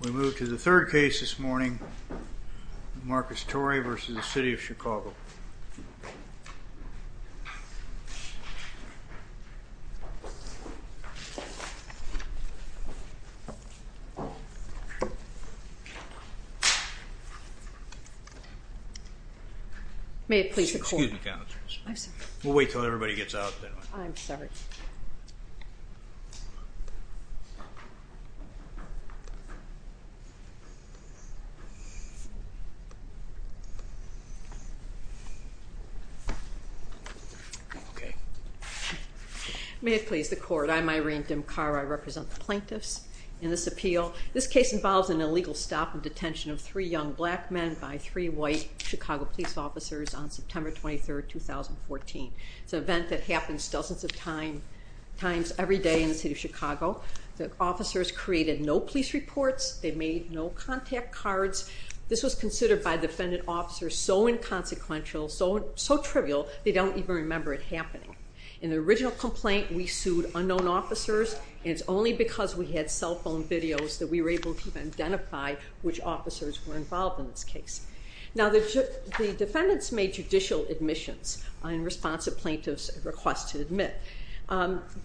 We move to the third case this morning, Marcus Torry v. City of Chicago. May it please the Court. Excuse me, Counsel. I'm sorry. We'll wait until everybody gets out. I'm sorry. Okay. May it please the Court. I'm Irene Dimcaro. I represent the plaintiffs in this appeal. This case involves an illegal stop and detention of three young black men by three white Chicago police officers on September 23, 2014. It's an event that happens dozens of times every day in the city of Chicago. The officers created no police reports. They made no contact cards. This was considered by defendant officers so inconsequential, so trivial, they don't even remember it happening. In the original complaint, we sued unknown officers, and it's only because we had cell phone videos that we were able to identify which officers were involved in this case. Now, the defendants made judicial admissions in response to plaintiffs' request to admit.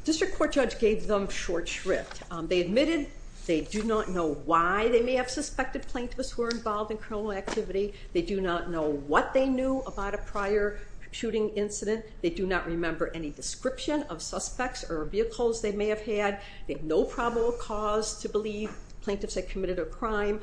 District Court judge gave them short shrift. They admitted they do not know why they may have suspected plaintiffs were involved in criminal activity. They do not know what they knew about a prior shooting incident. They do not remember any description of suspects or vehicles they may have had. They have no probable cause to believe plaintiffs had committed a crime.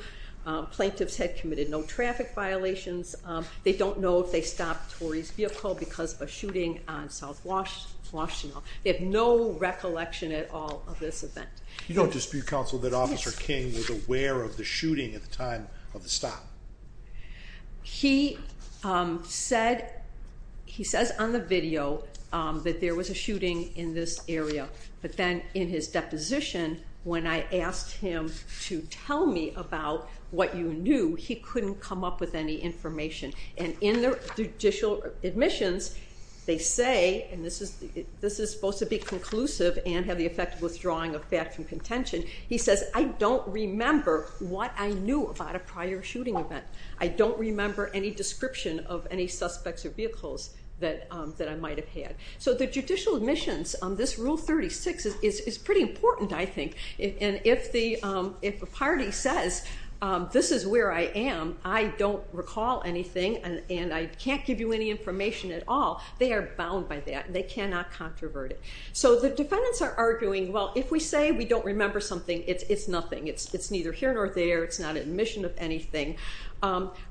Plaintiffs had committed no traffic violations. They don't know if they stopped Torey's vehicle because of a shooting on South Washtenaw. They have no recollection at all of this event. You don't dispute, counsel, that Officer King was aware of the shooting at the time of the stop? He said on the video that there was a shooting in this area, but then in his deposition, when I asked him to tell me about what you knew, he couldn't come up with any information. And in the judicial admissions, they say, and this is supposed to be conclusive and have the effect of withdrawing a fact from contention, he says, I don't remember what I knew about a prior shooting event. I don't remember any description of any suspects or vehicles that I might have had. So the judicial admissions on this Rule 36 is pretty important, I think. And if a party says, this is where I am, I don't recall anything, and I can't give you any information at all, they are bound by that, and they cannot controvert it. So the defendants are arguing, well, if we say we don't remember something, it's nothing. It's neither here nor there. It's not an admission of anything.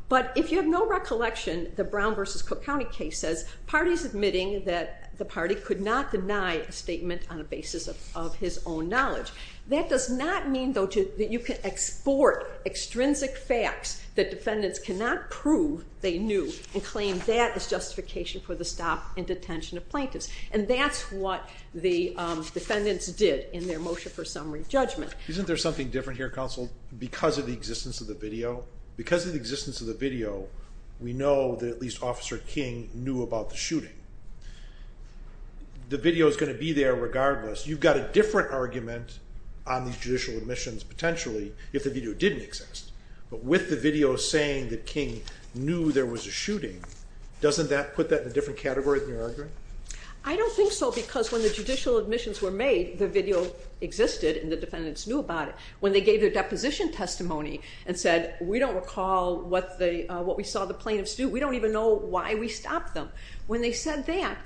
But if you have no recollection, the Brown v. Cook County case says, parties admitting that the party could not deny a statement on the basis of his own knowledge. That does not mean, though, that you can export extrinsic facts that defendants cannot prove they knew and claim that as justification for the stop and detention of plaintiffs. And that's what the defendants did in their motion for summary judgment. Isn't there something different here, counsel, because of the existence of the video? Because of the existence of the video, we know that at least Officer King knew about the shooting. The video is going to be there regardless. You've got a different argument on these judicial admissions, potentially, if the video didn't exist. But with the video saying that King knew there was a shooting, doesn't that put that in a different category than your argument? I don't think so because when the judicial admissions were made, the video existed and the defendants knew about it. When they gave their deposition testimony and said, we don't recall what we saw the plaintiffs do, we don't even know why we stopped them. When they said that,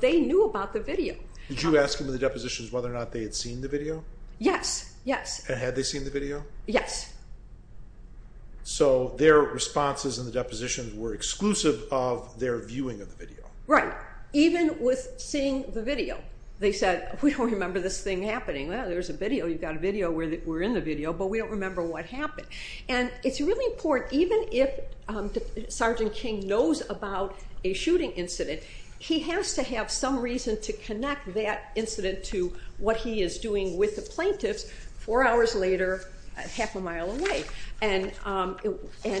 they knew about the video. Did you ask them in the depositions whether or not they had seen the video? Yes, yes. Had they seen the video? Yes. So their responses in the depositions were exclusive of their viewing of the video. Right. Even with seeing the video, they said, we don't remember this thing happening. Well, there's a video. You've got a video. We're in the video, but we don't remember what happened. And it's really important, even if Sergeant King knows about a shooting incident, he has to have some reason to connect that incident to what he is doing with the plaintiffs four hours later half a mile away. And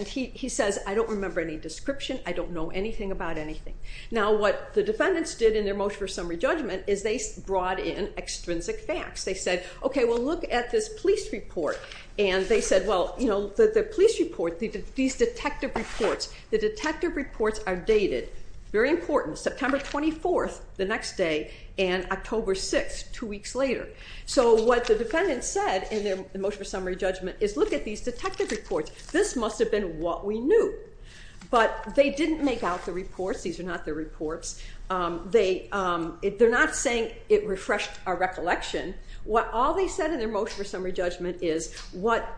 he says, I don't remember any description. I don't know anything about anything. Now, what the defendants did in their motion for summary judgment is they brought in extrinsic facts. They said, okay, well, look at this police report. And they said, well, the police report, these detective reports, the detective reports are dated. Very important. September 24th, the next day, and October 6th, two weeks later. So what the defendants said in their motion for summary judgment is, look at these detective reports. This must have been what we knew. But they didn't make out the reports. These are not the reports. They're not saying it refreshed our recollection. All they said in their motion for summary judgment is what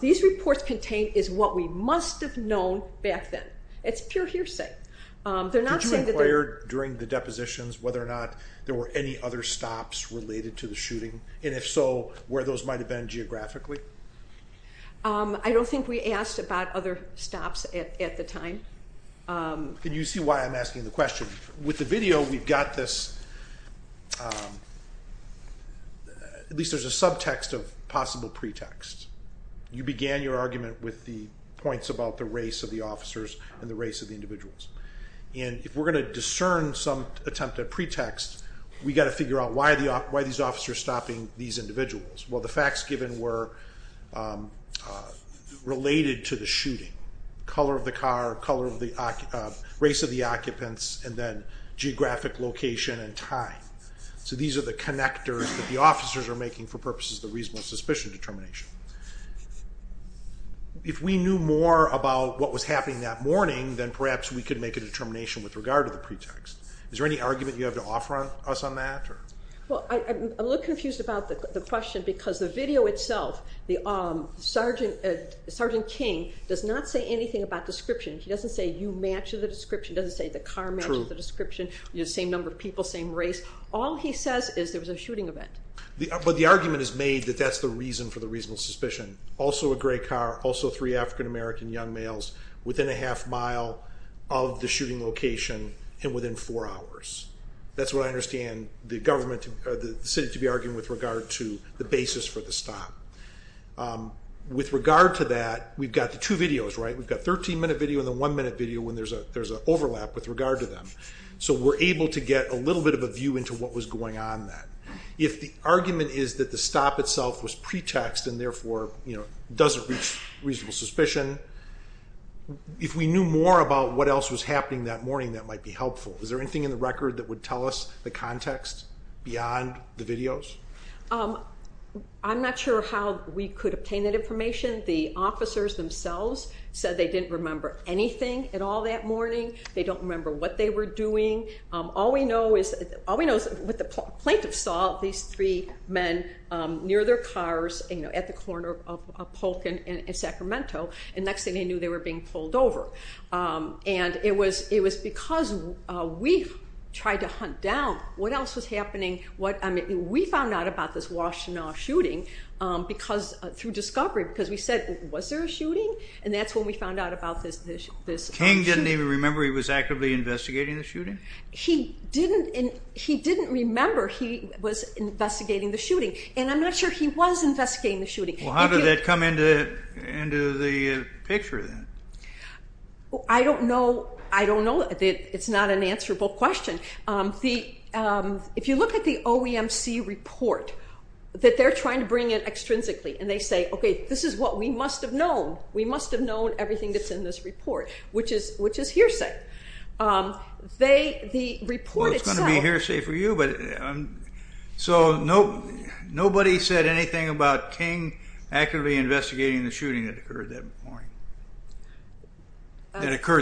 these reports contain is what we must have known back then. It's pure hearsay. Did you inquire during the depositions whether or not there were any other stops related to the shooting? And if so, where those might have been geographically? I don't think we asked about other stops at the time. And you see why I'm asking the question. With the video, we've got this, at least there's a subtext of possible pretext. You began your argument with the points about the race of the officers and the race of the individuals. And if we're going to discern some attempt at pretext, we've got to figure out why these officers are stopping these individuals. Well, the facts given were related to the shooting. Color of the car, race of the occupants, and then geographic location and time. So these are the connectors that the officers are making for purposes of the reasonable suspicion determination. If we knew more about what was happening that morning, then perhaps we could make a determination with regard to the pretext. Is there any argument you have to offer us on that? Well, I'm a little confused about the question because the video itself, Sergeant King does not say anything about description. He doesn't say you match the description, doesn't say the car matches the description, same number of people, same race. All he says is there was a shooting event. But the argument is made that that's the reason for the reasonable suspicion. Also a gray car, also three African American young males within a half mile of the shooting location and within four hours. That's what I understand the city to be arguing with regard to the basis for the stop. With regard to that, we've got the two videos, right? We've got 13-minute video and the one-minute video when there's an overlap with regard to them. So we're able to get a little bit of a view into what was going on then. If the argument is that the stop itself was pretext and therefore doesn't reach reasonable suspicion, if we knew more about what else was happening that morning, that might be helpful. Is there anything in the record that would tell us the context beyond the videos? I'm not sure how we could obtain that information. The officers themselves said they didn't remember anything at all that morning. They don't remember what they were doing. All we know is what the plaintiffs saw, these three men near their cars at the corner of Polk and Sacramento. And next thing they knew, they were being pulled over. It was because we tried to hunt down what else was happening. We found out about this Washtenaw shooting through discovery because we said, was there a shooting? And that's when we found out about this shooting. King didn't even remember he was actively investigating the shooting? He didn't remember he was investigating the shooting. And I'm not sure he was investigating the shooting. How did that come into the picture then? I don't know. I don't know. It's not an answerable question. If you look at the OEMC report, that they're trying to bring it extrinsically, and they say, okay, this is what we must have known. We must have known everything that's in this report, which is hearsay. The report itself- Well, it's going to be hearsay for you. So nobody said anything about King actively investigating the shooting that occurred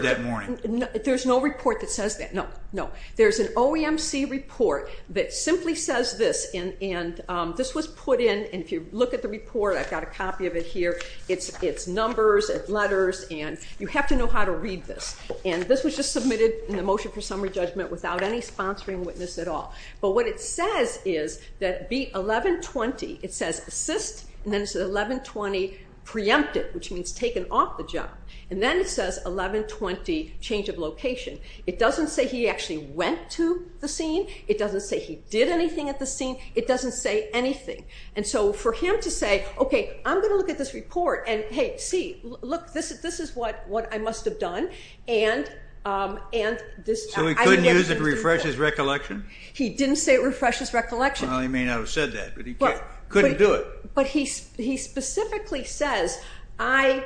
that morning? There's no report that says that. No, no. There's an OEMC report that simply says this, and this was put in, and if you look at the report, I've got a copy of it here. It's numbers, it's letters, and you have to know how to read this. And this was just submitted in the motion for summary judgment without any sponsoring witness at all. But what it says is that 1120, it says assist, and then it says 1120 preempted, which means taken off the job. And then it says 1120 change of location. It doesn't say he actually went to the scene. It doesn't say he did anything at the scene. It doesn't say anything. And so for him to say, okay, I'm going to look at this report, and hey, see, look, this is what I must have done. So he couldn't use it to refresh his recollection? He didn't say it refreshes recollection. Well, he may not have said that, but he couldn't do it. But he specifically says, I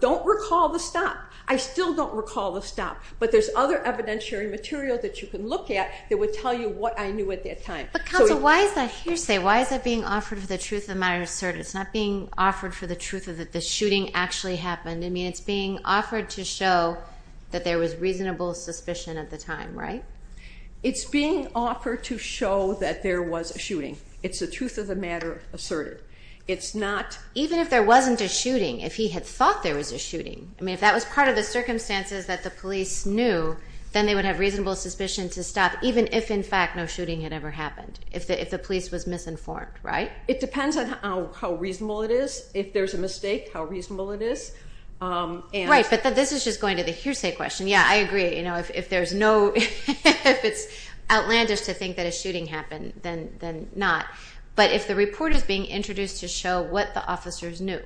don't recall the stop. I still don't recall the stop, but there's other evidentiary material that you can look at that would tell you what I knew at that time. But counsel, why is that hearsay? Why is that being offered for the truth of matters asserted? It's not being offered for the truth of the shooting actually happened. I mean, it's being offered to show that there was reasonable suspicion at the time, right? It's being offered to show that there was a shooting. It's the truth of the matter asserted. It's not... Even if there wasn't a shooting, if he had thought there was a shooting, I mean, if that was part of the circumstances that the police knew, then they would have reasonable suspicion to stop, even if, in fact, no shooting had ever happened, if the police was misinformed, right? It depends on how reasonable it is. If there's a mistake, how reasonable it is. Right, but this is just going to the hearsay question. Yeah, I agree. If there's no... If it's outlandish to think that a shooting happened, then not. But if the report is being introduced to show what the officers knew,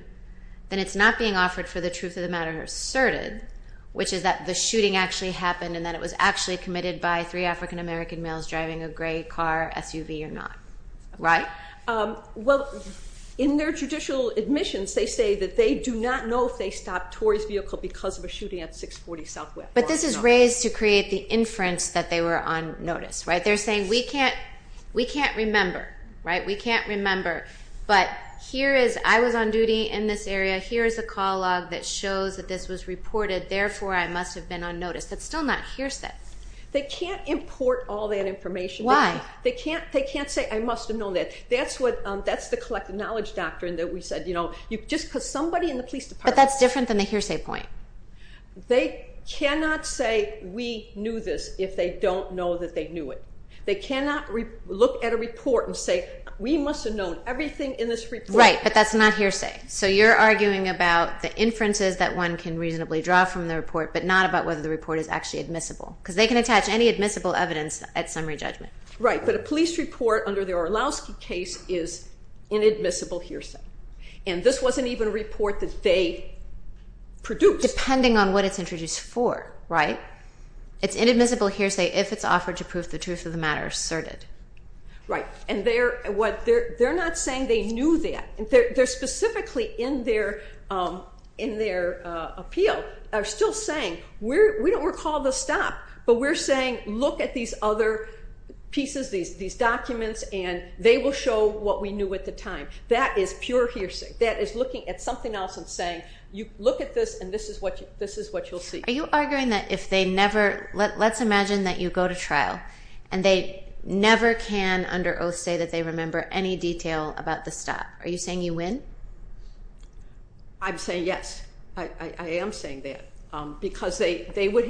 then it's not being offered for the truth of the matter asserted, which is that the shooting actually happened and that it was actually committed by three African-American males driving a gray car SUV or not, right? Well, in their judicial admissions, they say that they do not know if they stopped Tory's vehicle because of a shooting at 640 Southwest. But this is raised to create the inference that they were on notice, right? They're saying, we can't remember, right? We can't remember. But here is, I was on duty in this area. Here is a call log that shows that this was reported. Therefore, I must have been on notice. That's still not hearsay. They can't import all that information. Why? They can't say, I must have known that. That's the collective knowledge doctrine that we said, you know, just because somebody in the police department... But that's different than the hearsay point. They cannot say, we knew this, if they don't know that they knew it. They cannot look at a report and say, we must have known everything in this report. Right, but that's not hearsay. So you're arguing about the inferences that one can reasonably draw from the report but not about whether the report is actually admissible because they can attach any admissible evidence at summary judgment. Right, but a police report under the Orlowski case is inadmissible hearsay. And this wasn't even a report that they produced. Depending on what it's introduced for, right? It's inadmissible hearsay if it's offered to prove the truth of the matter asserted. Right, and they're not saying they knew that. They're specifically in their appeal still saying, we don't recall the stop, but we're saying, look at these other pieces, these documents, and they will show what we knew at the time. That is pure hearsay. That is looking at something else and saying, look at this, and this is what you'll see. Are you arguing that if they never... Let's imagine that you go to trial and they never can, under oath, say that they remember any detail about the stop. Are you saying you win? I'm saying yes. I am saying that because if they want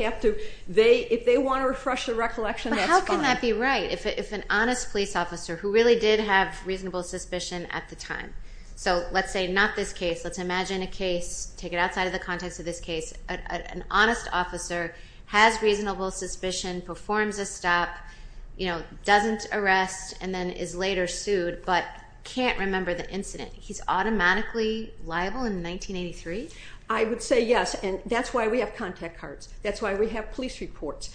to refresh their recollection, that's fine. But how can that be right if an honest police officer, who really did have reasonable suspicion at the time, so let's say not this case, let's imagine a case, take it outside of the context of this case, an honest officer has reasonable suspicion, performs a stop, doesn't arrest, and then is later sued but can't remember the incident. He's automatically liable in 1983? I would say yes, and that's why we have contact cards. That's why we have police reports.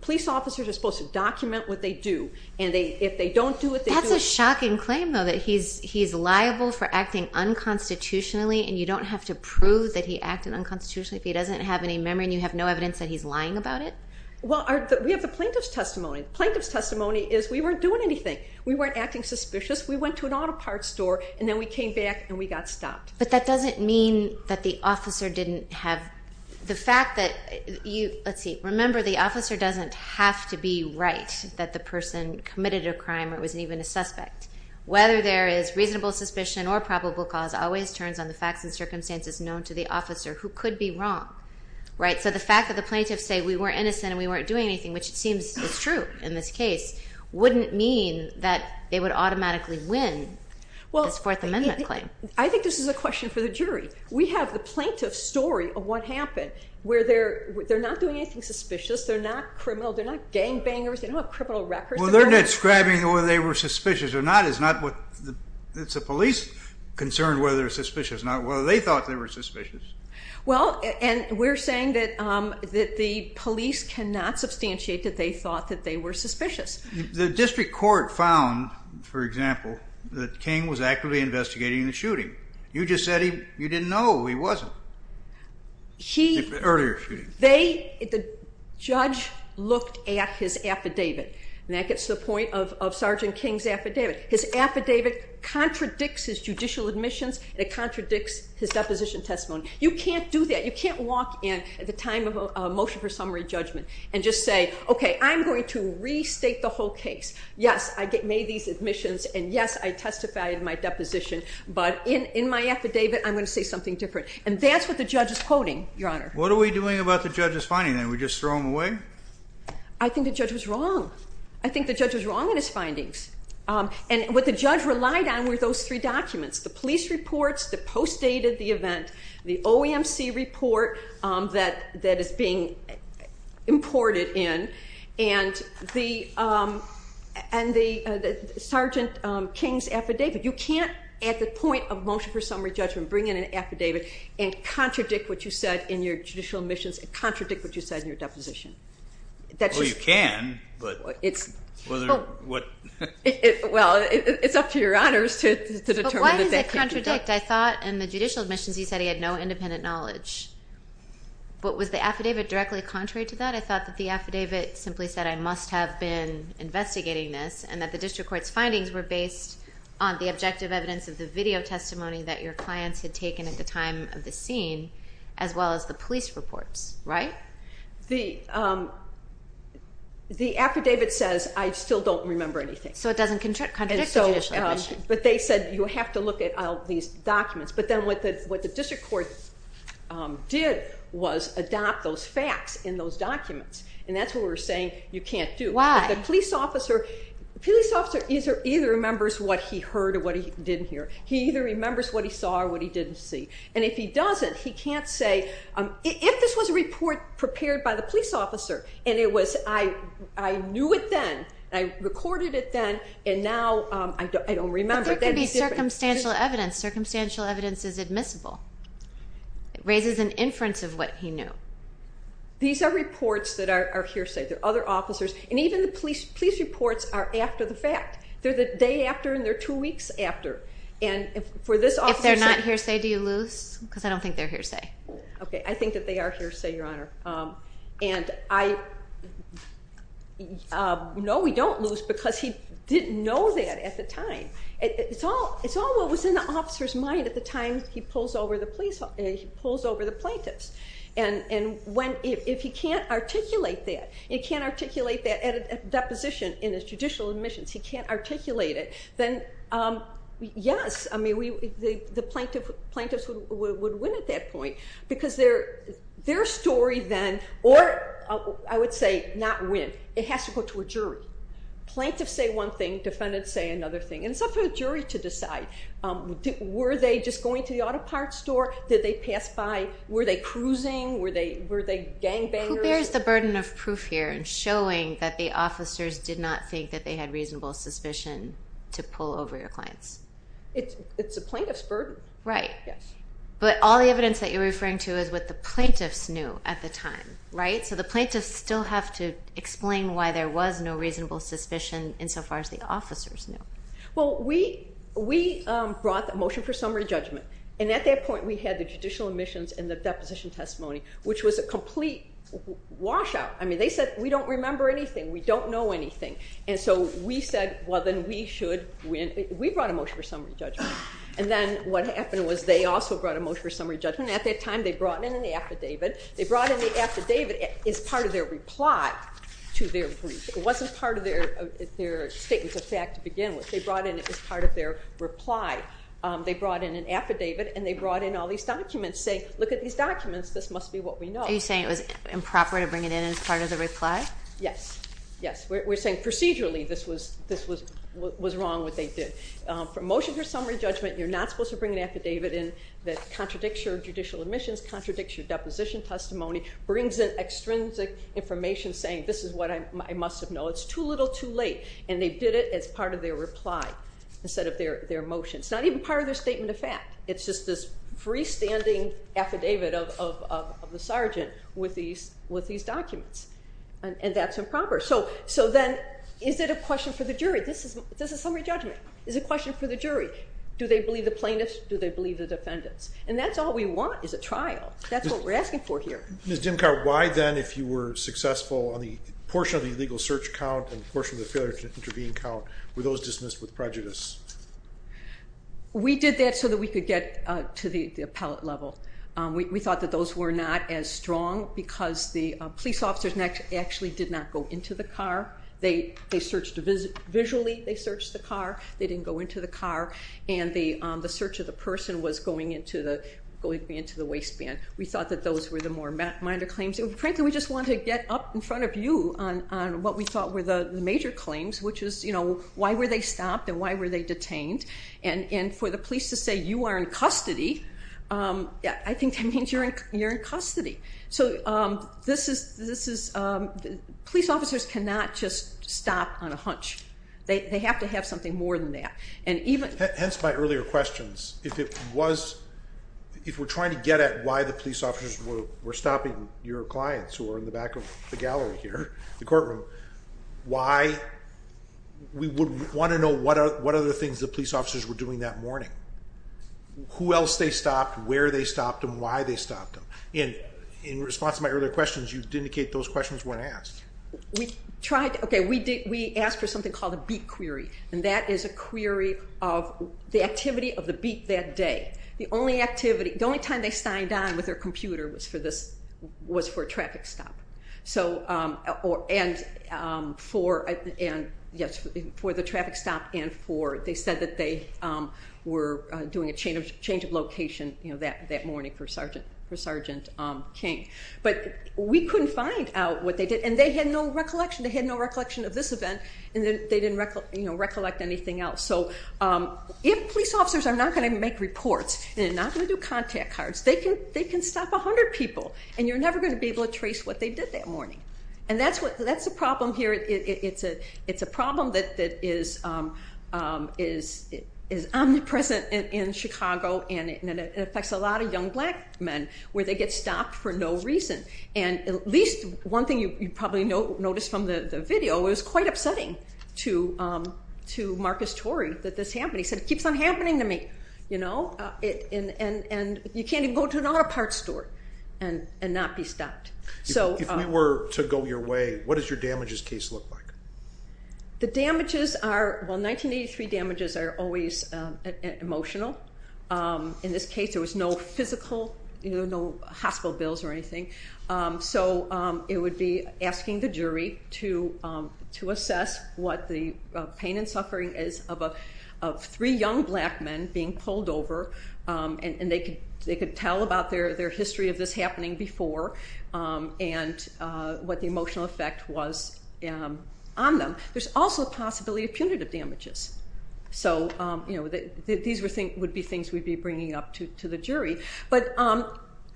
Police officers are supposed to document what they do, and if they don't do it... That's a shocking claim, though, that he's liable for acting unconstitutionally and you don't have to prove that he acted unconstitutionally if he doesn't have any memory and you have no evidence that he's lying about it? Well, we have the plaintiff's testimony. The plaintiff's testimony is we weren't doing anything. We weren't acting suspicious. We went to an auto parts store, and then we came back and we got stopped. But that doesn't mean that the officer didn't have the fact that you... Let's see. Remember, the officer doesn't have to be right that the person committed a crime or was even a suspect. Whether there is reasonable suspicion or probable cause always turns on the facts and circumstances known to the officer who could be wrong, right? So the fact that the plaintiffs say we weren't innocent and we weren't doing anything, which it seems is true in this case, wouldn't mean that they would automatically win this Fourth Amendment claim. I think this is a question for the jury. We have the plaintiff's story of what happened, where they're not doing anything suspicious. They're not criminal. They're not gangbangers. They don't have criminal records. Well, they're not describing whether they were suspicious or not. It's the police concerned whether they're suspicious not whether they thought they were suspicious. Well, and we're saying that the police cannot substantiate that they thought that they were suspicious. The district court found, for example, that King was actively investigating the shooting. You just said you didn't know he wasn't. The judge looked at his affidavit, and that gets to the point of Sergeant King's affidavit. His affidavit contradicts his judicial admissions and it contradicts his deposition testimony. You can't do that. You can't walk in at the time of a motion for summary judgment and just say, okay, I'm going to restate the whole case. Yes, I made these admissions, and yes, I testified in my deposition, but in my affidavit I'm going to say something different. And that's what the judge is quoting, Your Honor. What are we doing about the judge's finding? Are we just throwing them away? I think the judge was wrong. I think the judge was wrong in his findings. And what the judge relied on were those three documents, the police reports, the post-date of the event, the OEMC report that is being imported in, and the Sergeant King's affidavit. You can't at the point of motion for summary judgment bring in an affidavit and contradict what you said in your judicial admissions and contradict what you said in your deposition. Oh, you can. Well, it's up to Your Honors to determine if that can be done. Correct. I thought in the judicial admissions you said he had no independent knowledge. But was the affidavit directly contrary to that? I thought that the affidavit simply said I must have been investigating this and that the district court's findings were based on the objective evidence of the video testimony that your clients had taken at the time of the scene as well as the police reports, right? The affidavit says I still don't remember anything. So it doesn't contradict the judicial admission. But they said you have to look at all these documents. But then what the district court did was adopt those facts in those documents, and that's what we're saying you can't do. Why? The police officer either remembers what he heard or what he didn't hear. He either remembers what he saw or what he didn't see. And if he doesn't, he can't say if this was a report prepared by the police officer and it was I knew it then, I recorded it then, and now I don't remember. But there could be circumstantial evidence. Circumstantial evidence is admissible. It raises an inference of what he knew. These are reports that are hearsay. They're other officers. And even the police reports are after the fact. They're the day after and they're two weeks after. If they're not hearsay, do you lose? Because I don't think they're hearsay. Okay, I think that they are hearsay, Your Honor. And I know we don't lose because he didn't know that at the time. It's all what was in the officer's mind at the time he pulls over the plaintiffs. And if he can't articulate that, he can't articulate that at a deposition in his judicial admissions, he can't articulate it, then, yes, the plaintiffs would win at that point because their story then, or I would say not win, it has to go to a jury. Plaintiffs say one thing, defendants say another thing, and it's up to the jury to decide. Were they just going to the auto parts store? Did they pass by? Were they cruising? Were they gangbangers? Who bears the burden of proof here in showing that the officers did not think that they had reasonable suspicion to pull over your clients? It's a plaintiff's burden. Right. Yes. But all the evidence that you're referring to is what the plaintiffs knew at the time. Right? So the plaintiffs still have to explain why there was no reasonable suspicion insofar as the officers knew. Well, we brought the motion for summary judgment, and at that point we had the judicial admissions and the deposition testimony, which was a complete washout. I mean, they said we don't remember anything, we don't know anything. And so we said, well, then we should win. We brought a motion for summary judgment. And then what happened was they also brought a motion for summary judgment, and at that time they brought in an affidavit. They brought in the affidavit as part of their reply to their brief. It wasn't part of their statements of fact to begin with. They brought in it as part of their reply. They brought in an affidavit, and they brought in all these documents saying, look at these documents, this must be what we know. Are you saying it was improper to bring it in as part of the reply? Yes. Yes. We're saying procedurally this was wrong what they did. From motion for summary judgment you're not supposed to bring an affidavit in that contradicts your judicial admissions, contradicts your deposition testimony, brings in extrinsic information saying this is what I must have known. It's too little, too late. And they did it as part of their reply instead of their motion. It's not even part of their statement of fact. It's just this freestanding affidavit of the sergeant with these documents, and that's improper. So then is it a question for the jury? This is summary judgment. Is it a question for the jury? Do they believe the plaintiffs? Do they believe the defendants? And that's all we want is a trial. That's what we're asking for here. Ms. Dimkar, why then, if you were successful, on the portion of the illegal search count and the portion of the failure to intervene count, were those dismissed with prejudice? We did that so that we could get to the appellate level. We thought that those were not as strong because the police officers actually did not go into the car. They searched visually. They searched the car. They didn't go into the car. And the search of the person was going into the waistband. We thought that those were the more minor claims. Frankly, we just wanted to get up in front of you on what we thought were the major claims, which is, you know, why were they stopped and why were they detained? And for the police to say, you are in custody, I think that means you're in custody. So police officers cannot just stop on a hunch. They have to have something more than that. Hence my earlier questions. If we're trying to get at why the police officers were stopping your clients who are in the back of the gallery here, the courtroom, why? We would want to know what other things the police officers were doing that morning. Who else they stopped, where they stopped them, why they stopped them. In response to my earlier questions, you did indicate those questions weren't asked. Okay, we asked for something called a beat query, and that is a query of the activity of the beat that day. The only time they signed on with their computer was for a traffic stop. And for the traffic stop and for they said that they were doing a change of location that morning for Sergeant King. But we couldn't find out what they did, and they had no recollection. They had no recollection of this event, and they didn't recollect anything else. So if police officers are not going to make reports and are not going to do contact cards, they can stop 100 people, and you're never going to be able to trace what they did that morning. And that's the problem here. It's a problem that is omnipresent in Chicago, and it affects a lot of young black men where they get stopped for no reason. And at least one thing you probably noticed from the video, it was quite upsetting to Marcus Torrey that this happened. He said, it keeps on happening to me, you know, and you can't even go to an auto parts store and not be stopped. If we were to go your way, what does your damages case look like? The damages are, well, 1983 damages are always emotional. In this case, there was no physical, no hospital bills or anything. So it would be asking the jury to assess what the pain and suffering is of three young black men being pulled over, and they could tell about their history of this happening before. And what the emotional effect was on them. There's also a possibility of punitive damages. So, you know, these would be things we'd be bringing up to the jury. But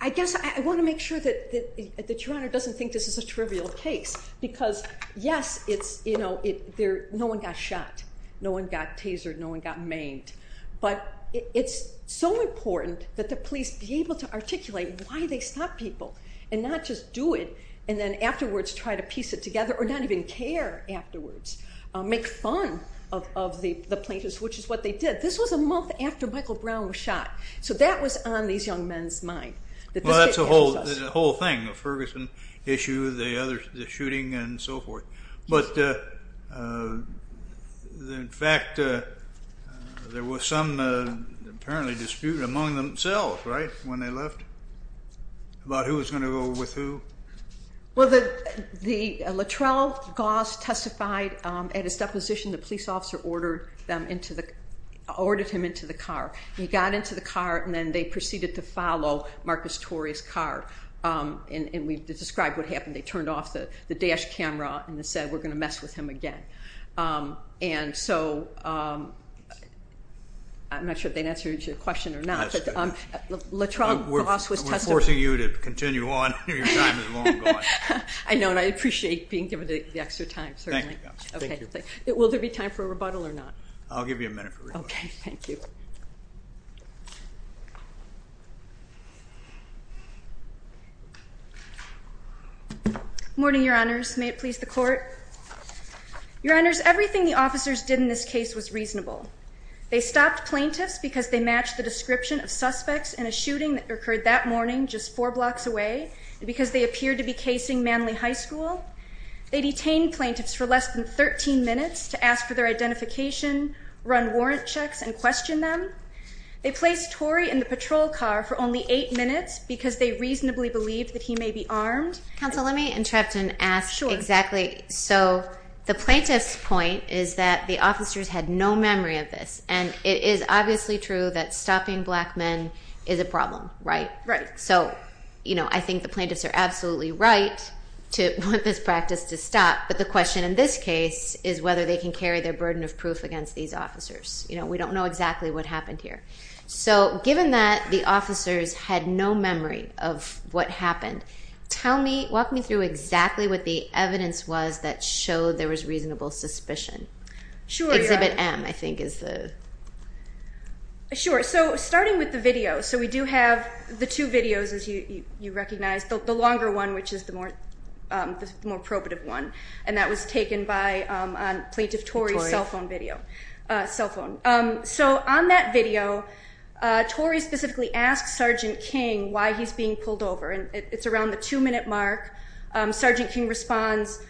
I guess I want to make sure that Your Honor doesn't think this is a trivial case because, yes, no one got shot, no one got tasered, no one got maimed. But it's so important that the police be able to articulate why they stop people and not just do it and then afterwards try to piece it together or not even care afterwards. Make fun of the plaintiffs, which is what they did. This was a month after Michael Brown was shot. So that was on these young men's mind. Well, that's the whole thing, the Ferguson issue, the shooting and so forth. But, in fact, there was some apparently dispute among themselves, right, when they left, about who was going to go with who. Well, Latrell Goss testified at his deposition the police officer ordered him into the car. He got into the car and then they proceeded to follow Marcus Torrey's car. And we described what happened. They turned off the dash camera and said, we're going to mess with him again. And so I'm not sure if they answered your question or not. Latrell Goss was testifying. We're forcing you to continue on. Your time is long gone. I know, and I appreciate being given the extra time. Thank you. Will there be time for a rebuttal or not? I'll give you a minute for rebuttal. Okay. Thank you. Good morning, Your Honors. May it please the Court. Your Honors, everything the officers did in this case was reasonable. They stopped plaintiffs because they matched the description of suspects in a shooting that occurred that morning just four blocks away, and because they appeared to be casing Manly High School. They detained plaintiffs for less than 13 minutes to ask for their identification, run warrant checks, and question them. They placed Torrey in the patrol car for only eight minutes because they reasonably believed that he may be armed. Counsel, let me interrupt and ask exactly. Sure. The plaintiff's point is that the officers had no memory of this, and it is obviously true that stopping black men is a problem, right? Right. I think the plaintiffs are absolutely right to want this practice to stop, but the question in this case is whether they can carry their burden of proof against these officers. We don't know exactly what happened here. Given that the officers had no memory of what happened, walk me through exactly what the evidence was that showed there was reasonable suspicion. Sure. Exhibit M, I think, is the. Sure. So starting with the video. So we do have the two videos, as you recognize, the longer one, which is the more probative one, and that was taken on Plaintiff Torrey's cell phone video. So on that video, Torrey specifically asked Sergeant King why he's being pulled over, and it's around the two-minute mark. Sergeant King responds,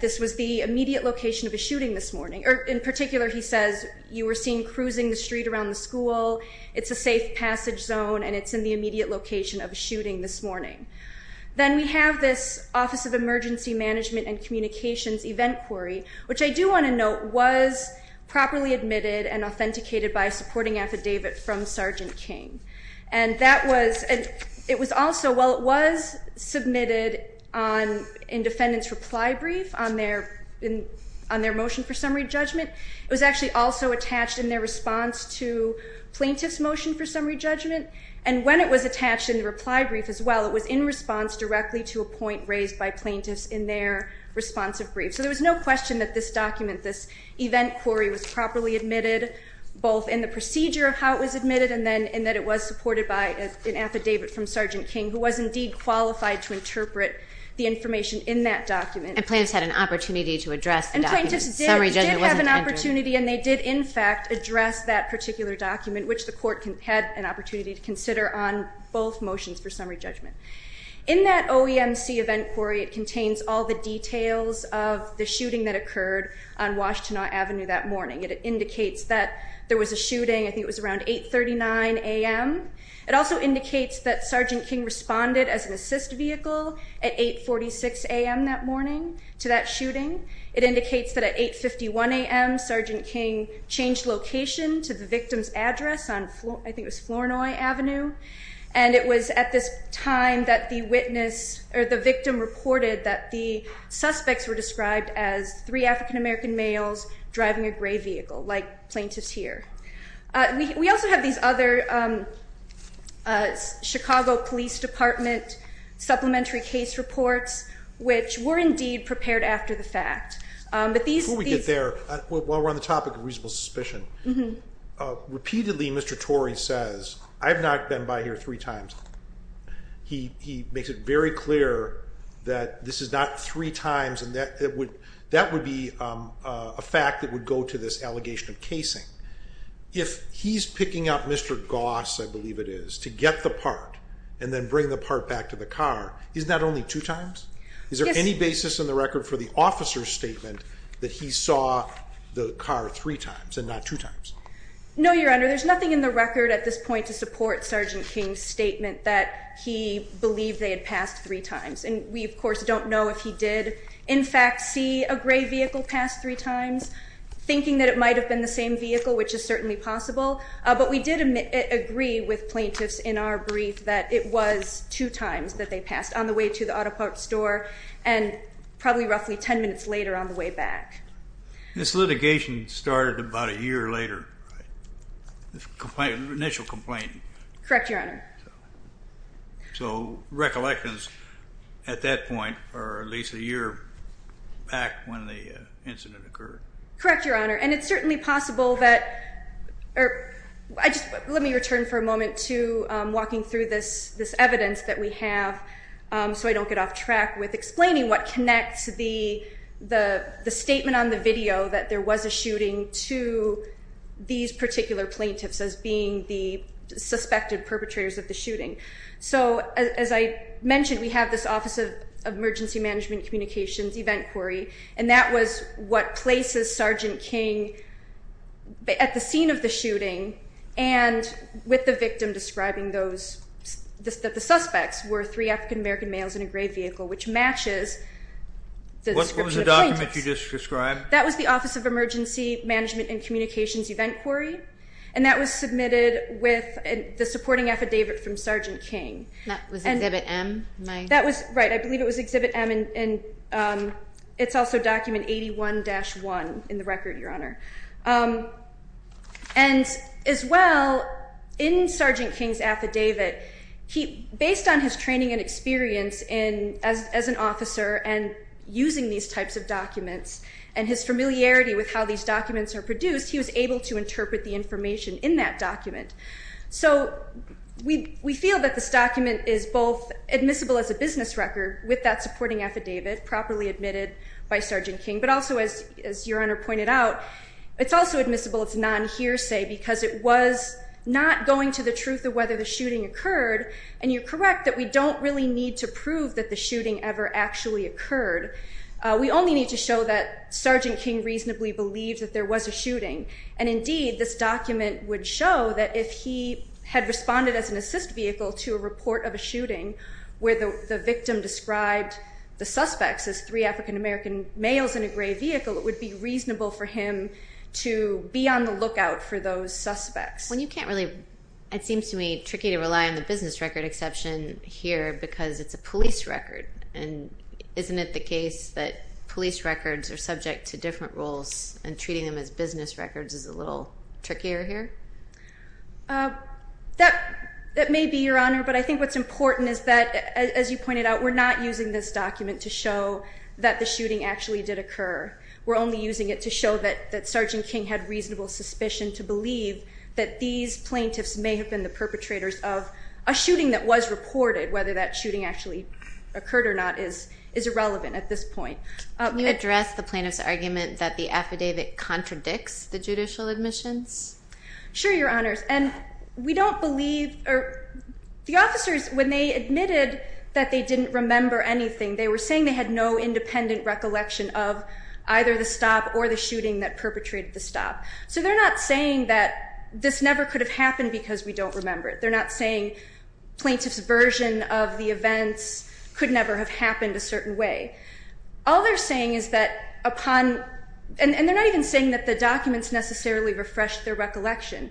this was the immediate location of a shooting this morning. Or in particular, he says, you were seen cruising the street around the school, it's a safe passage zone, and it's in the immediate location of a shooting this morning. Then we have this Office of Emergency Management and Communications event query, which I do want to note, was properly admitted and authenticated by a supporting affidavit from Sergeant King. And it was also, while it was submitted in defendant's reply brief on their motion for summary judgment, it was actually also attached in their response to plaintiff's motion for summary judgment. And when it was attached in the reply brief as well, it was in response directly to a point raised by plaintiffs in their responsive brief. So there was no question that this document, this event query was properly admitted, both in the procedure of how it was admitted and then in that it was supported by an affidavit from Sergeant King, who was indeed qualified to interpret the information in that document. And plaintiffs had an opportunity to address the document. Summary judgment wasn't entered. And they did in fact address that particular document, which the court had an opportunity to consider on both motions for summary judgment. In that OEMC event query, it contains all the details of the shooting that occurred on Washtenaw Avenue that morning. It indicates that there was a shooting, I think it was around 839 a.m. It also indicates that Sergeant King responded as an assist vehicle at 846 a.m. that morning to that shooting. It indicates that at 851 a.m. Sergeant King changed location to the victim's address on, I think it was Flournoy Avenue. And it was at this time that the witness, or the victim reported that the suspects were described as three African-American males driving a gray vehicle, like plaintiffs here. We also have these other Chicago Police Department supplementary case reports, which were indeed prepared after the fact. Before we get there, while we're on the topic of reasonable suspicion, repeatedly Mr. Torrey says, I've not been by here three times. He makes it very clear that this is not three times, and that would be a fact that would go to this allegation of casing. If he's picking up Mr. Goss, I believe it is, to get the part and then bring the part back to the car, isn't that only two times? Is there any basis in the record for the officer's statement that he saw the car three times and not two times? No, Your Honor. There's nothing in the record at this point to support Sergeant King's statement that he believed they had passed three times. And we, of course, don't know if he did, in fact, see a gray vehicle pass three times, thinking that it might have been the same vehicle, which is certainly possible. But we did agree with plaintiffs in our brief that it was two times that they passed, on the way to the auto parts store, and probably roughly ten minutes later on the way back. This litigation started about a year later, right? The initial complaint. Correct, Your Honor. So recollections, at that point, are at least a year back when the incident occurred. Correct, Your Honor. And it's certainly possible that, or let me return for a moment to walking through this evidence that we have so I don't get off track with explaining what connects the statement on the video that there was a shooting to these particular plaintiffs as being the suspected perpetrators of the shooting. So as I mentioned, we have this Office of Emergency Management Communications event query, and that was what places Sergeant King at the scene of the shooting, and with the victim describing those, that the suspects were three African American males in a gray vehicle, which matches the description of the plaintiffs. What was the document you just described? That was the Office of Emergency Management and Communications event query, and that was submitted with the supporting affidavit from Sergeant King. That was Exhibit M? Right, I believe it was Exhibit M, and it's also Document 81-1 in the record, Your Honor. And as well, in Sergeant King's affidavit, based on his training and experience as an officer and using these types of documents and his familiarity with how these documents are produced, he was able to interpret the information in that document. So we feel that this document is both admissible as a business record with that supporting affidavit properly admitted by Sergeant King, but also as Your Honor pointed out, it's also admissible as non-hearsay, because it was not going to the truth of whether the shooting occurred, and you're correct that we don't really need to prove that the shooting ever actually occurred. We only need to show that Sergeant King reasonably believed that there was a shooting. And indeed, this document would show that if he had responded as an assist vehicle to a report of a shooting where the victim described the suspects as three African-American males in a gray vehicle, it would be reasonable for him to be on the lookout for those suspects. Well, you can't really, it seems to me, tricky to rely on the business record exception here because it's a police record, and isn't it the case that police records are subject to different rules and business records is a little trickier here? That may be, Your Honor, but I think what's important is that as you pointed out, we're not using this document to show that the shooting actually did occur. We're only using it to show that Sergeant King had reasonable suspicion to believe that these plaintiffs may have been the perpetrators of a shooting that was reported, whether that shooting actually occurred or not is irrelevant at this point. Can you address the plaintiff's argument that the affidavit contradicts the judicial admissions? Sure, Your Honors. And we don't believe, or the officers when they admitted that they didn't remember anything, they were saying they had no independent recollection of either the stop or the shooting that perpetrated the stop. So they're not saying that this never could have happened because we don't remember it. They're not saying plaintiff's version of the events could never have happened a certain way. All they're saying is that upon, and they're not even saying that the documents necessarily refresh their recollection.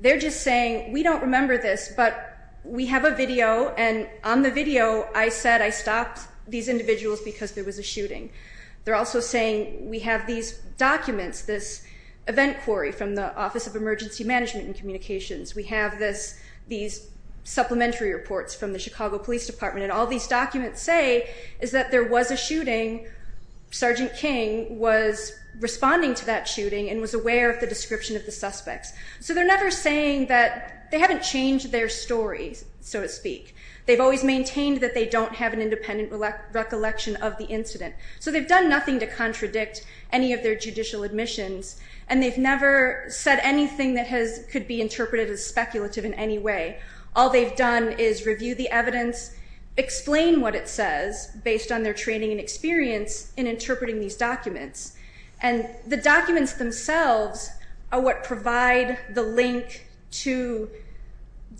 They're just saying we don't remember this, but we have a video and on the video I said I stopped these individuals because there was a shooting. They're also saying we have these documents, this event query from the Office of Emergency Management and Communications. We have this, these supplementary reports from the Chicago Police Department, and all these documents say is that there was a shooting. Sergeant King was responding to that shooting and was aware of the description of the suspects. So they're never saying that they haven't changed their stories, so to speak. They've always maintained that they don't have an independent recollection of the incident. So they've done nothing to contradict any of their judicial admissions, and they've never said anything that could be interpreted as speculative in any way. All they've done is review the evidence, explain what it says based on their training and experience in interpreting these documents. And the documents themselves are what provide the link to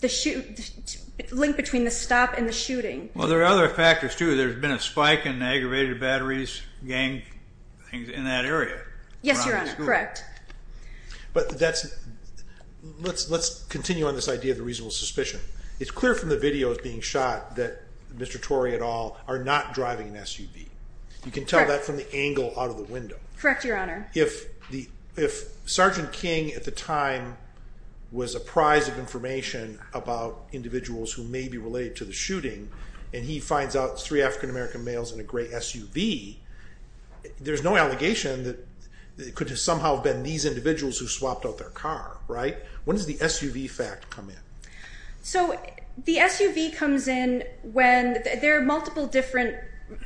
the, link between the stop and the shooting. Well, there are other factors, too. There's been a spike in aggravated batteries, gang, things in that area. Yes, you're right. Correct. But that's, let's continue on this idea of the reasonable suspicion. It's clear from the videos being shot that Mr. Torrey at all are not driving an SUV. You can tell that from the angle out of the window. Correct, Your Honor. If Sergeant King at the time was apprised of information about individuals who may be related to the shooting, and he finds out three African American males in a gray SUV, there's no allegation that it could have somehow been these individuals who swapped out their car, right? When does the SUV fact come in? So the SUV comes in when, there are multiple different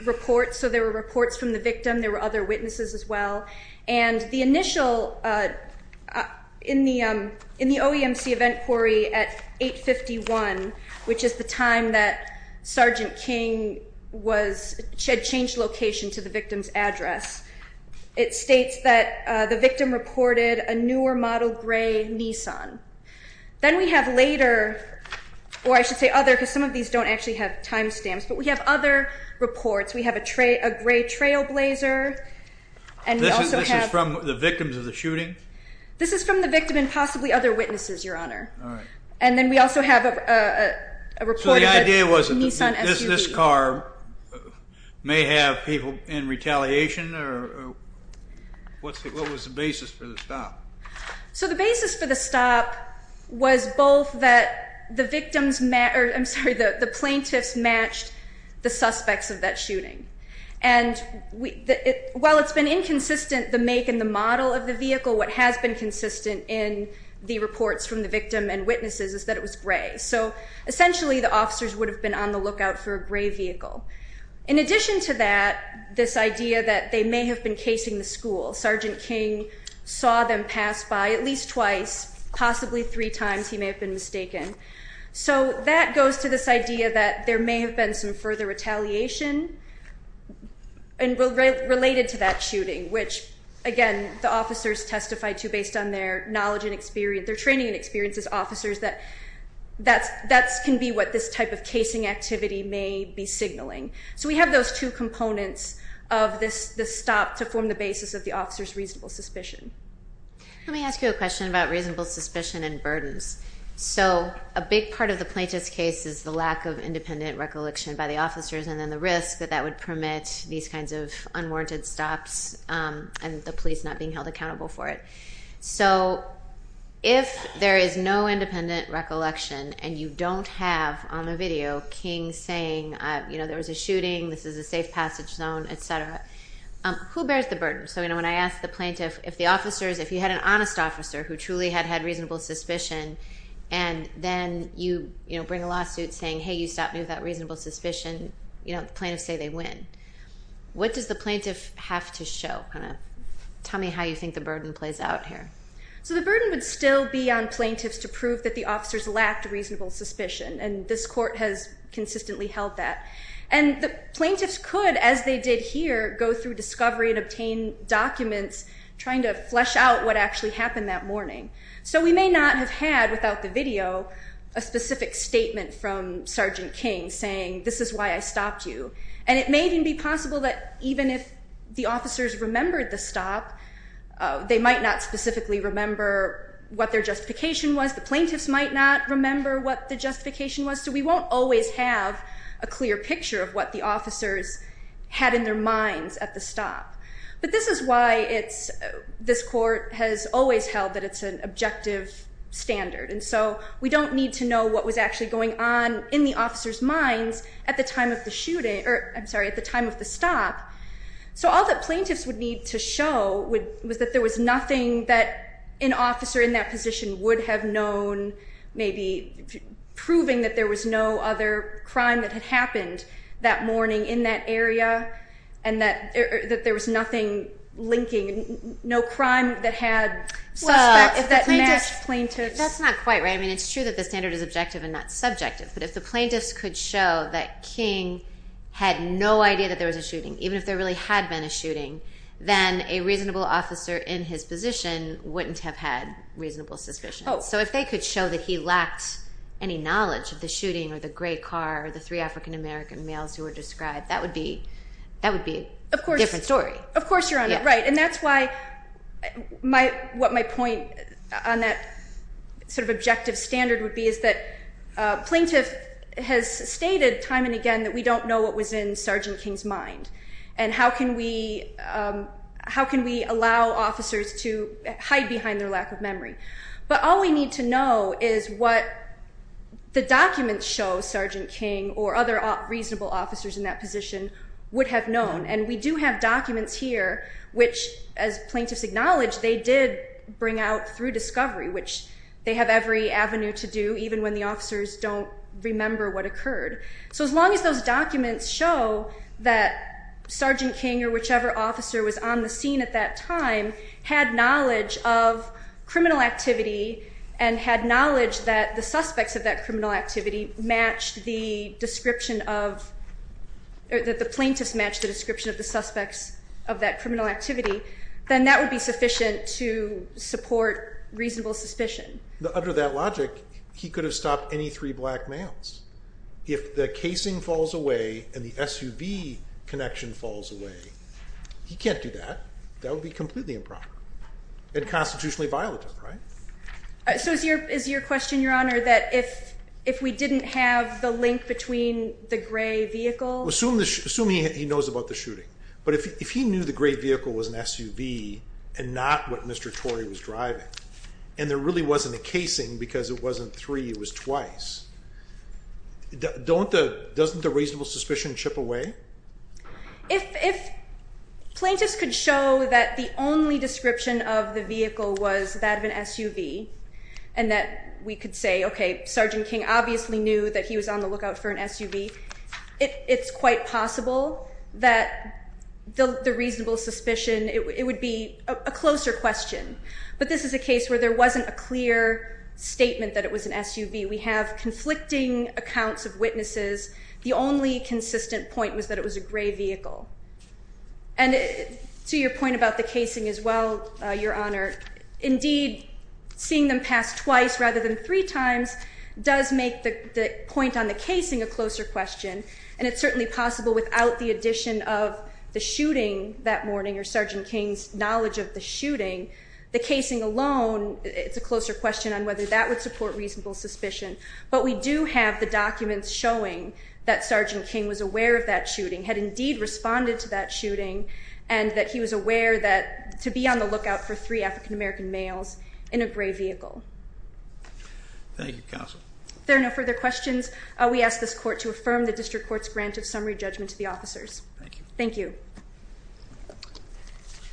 reports. So there were reports from the victim. There were other witnesses as well. And the initial, in the OEMC event query at 851, which is the time that Sergeant King was, had changed location to the victim's address, it states that the victim reported a newer model gray Nissan. Then we have later, or I should say other, because some of these don't actually have time stamps, but we have other reports. We have a gray trailblazer. This is from the victims of the shooting? This is from the victim and possibly other witnesses, Your Honor. All right. And then we also have a report of a Nissan SUV. So the idea was that this car may have people in retaliation, or what was the basis for the stop? So the basis for the stop was both that the victims, I'm sorry, the plaintiffs matched the suspects of that shooting. And while it's been inconsistent, the make and the model of the vehicle, what has been consistent in the reports from the victim and witnesses is that it was gray. So essentially the officers would have been on the lookout for a gray vehicle. In addition to that, this idea that they may have been casing the school. Sergeant King saw them pass by at least twice, possibly three times he may have been mistaken. So that goes to this idea that there may have been some further retaliation related to that shooting, which, again, the officers testified to based on their knowledge and experience, their training and experience as officers, that that can be what this type of casing activity may be signaling. So we have those two components of this stop to form the basis of the officer's reasonable suspicion. Let me ask you a question about reasonable suspicion and burdens. So a big part of the plaintiff's case is the lack of independent recollection by the officers and then the risk that that would permit these kinds of unwarranted stops and the police not being held accountable for it. So if there is no independent recollection and you don't have on the video King saying there was a shooting, this is a safe passage zone, et cetera, who bears the burden? So when I asked the plaintiff if the officers, if you had an honest officer who truly had had reasonable suspicion and then you bring a lawsuit saying, hey, you stopped me with that reasonable suspicion, the plaintiffs say they win. What does the plaintiff have to show? Tell me how you think the burden plays out here. So the burden would still be on plaintiffs to prove that the officers lacked reasonable suspicion, and this court has consistently held that. And the plaintiffs could, as they did here, go through discovery and obtain documents trying to flesh out what actually happened that morning. So we may not have had, without the video, a specific statement from Sergeant King saying this is why I stopped you. And it may even be possible that even if the officers remembered the stop, they might not specifically remember what their justification was. The plaintiffs might not remember what the justification was. So we won't always have a clear picture of what the officers had in their minds at the stop. But this is why this court has always held that it's an objective standard. And so we don't need to know what was actually going on in the officers' minds at the time of the shooting or, I'm sorry, at the time of the stop. So all that plaintiffs would need to show was that there was nothing that an officer in that position would have known, maybe proving that there was no other crime that had happened that morning in that area and that there was nothing linking, no crime that had suspects that matched plaintiffs. That's not quite right. I mean, it's true that the standard is objective and not subjective. But if the plaintiffs could show that King had no idea that there was a shooting, even if there really had been a shooting, then a reasonable officer in his position wouldn't have had reasonable suspicions. So if they could show that he lacked any knowledge of the shooting or the gray car or the three African-American males who were described, that would be a different story. Of course you're on it right. And that's why what my point on that sort of objective standard would be is that plaintiff has stated time and again that we don't know what was in Sergeant King's mind. And how can we allow officers to hide behind their lack of memory? But all we need to know is what the documents show Sergeant King or other reasonable officers in that position would have known. And we do have documents here, which as plaintiffs acknowledge, they did bring out through discovery, which they have every avenue to do, even when the officers don't remember what occurred. So as long as those documents show that Sergeant King or whichever officer was on the scene at that time had knowledge of criminal activity and had knowledge that the suspects of that criminal activity matched the description of the suspects of that criminal activity, then that would be sufficient to support reasonable suspicion. Under that logic, he could have stopped any three black males. If the casing falls away and the SUV connection falls away, he can't do that. That would be completely improper and constitutionally violent, right? So is your question, Your Honor, that if we didn't have the link between the gray vehicle? Assume he knows about the shooting. But if he knew the gray vehicle was an SUV and not what Mr. Torrey was driving and there really wasn't a casing because it wasn't three, it was twice, doesn't the reasonable suspicion chip away? If plaintiffs could show that the only description of the vehicle was that of an SUV and that we could say, okay, Sergeant King obviously knew that he was on the lookout for an SUV, it's quite possible that the reasonable suspicion, it would be a closer question. But this is a case where there wasn't a clear statement that it was an SUV. We have conflicting accounts of witnesses. The only consistent point was that it was a gray vehicle. And to your point about the casing as well, Your Honor, indeed seeing them pass twice rather than three times does make the point on the casing a closer question. And it's certainly possible without the addition of the shooting that morning or Sergeant King's knowledge of the shooting, the casing alone, it's a closer question on whether that would support reasonable suspicion. But we do have the documents showing that Sergeant King was aware of that shooting, had indeed responded to that shooting, and that he was aware to be on the lookout for three African American males in a gray vehicle. Thank you, Counsel. If there are no further questions, we ask this Court to affirm the District Court's grant of summary judgment to the officers. Thank you. Thank you.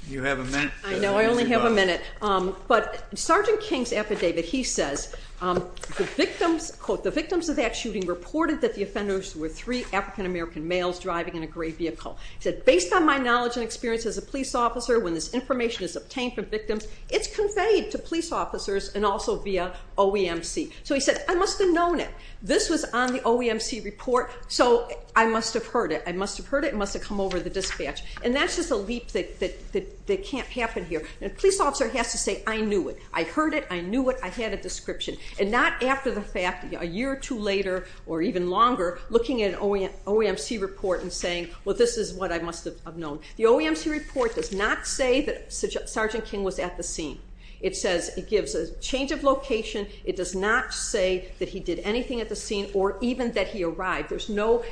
You have a minute. I know, I only have a minute. But Sergeant King's affidavit, he says, the victims of that shooting reported that the offenders were three African American males driving in a gray vehicle. He said, based on my knowledge and experience as a police officer, when this information is obtained from victims, it's conveyed to police officers and also via OEMC. So he said, I must have known it. This was on the OEMC report, so I must have heard it. I must have heard it. It must have come over the dispatch. And that's just a leap that can't happen here. A police officer has to say, I knew it. I heard it. I knew it. I had a description. And not after the fact, a year or two later or even longer, looking at an OEMC report and saying, well, this is what I must have known. The OEMC report does not say that Sergeant King was at the scene. It says it gives a change of location. It does not say that he did anything at the scene or even that he arrived. There's no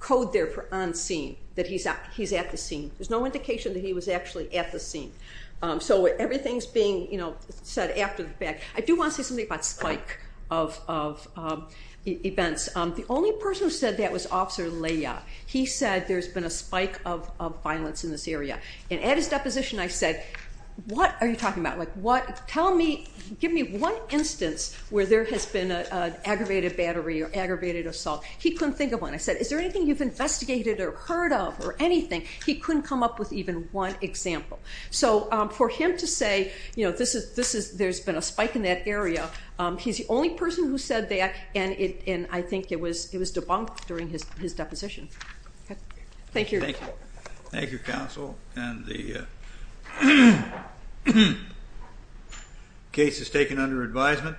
code there for on scene, that he's at the scene. There's no indication that he was actually at the scene. So everything's being said after the fact. I do want to say something about spike of events. The only person who said that was Officer Leah. He said there's been a spike of violence in this area. And at his deposition I said, what are you talking about? Give me one instance where there has been an aggravated battery or aggravated assault. He couldn't think of one. I said, is there anything you've investigated or heard of or anything? He couldn't come up with even one example. So for him to say there's been a spike in that area, he's the only person who said that, and I think it was debunked during his deposition. Thank you. Thank you. Thank you, Counsel. And the case is taken under advisement.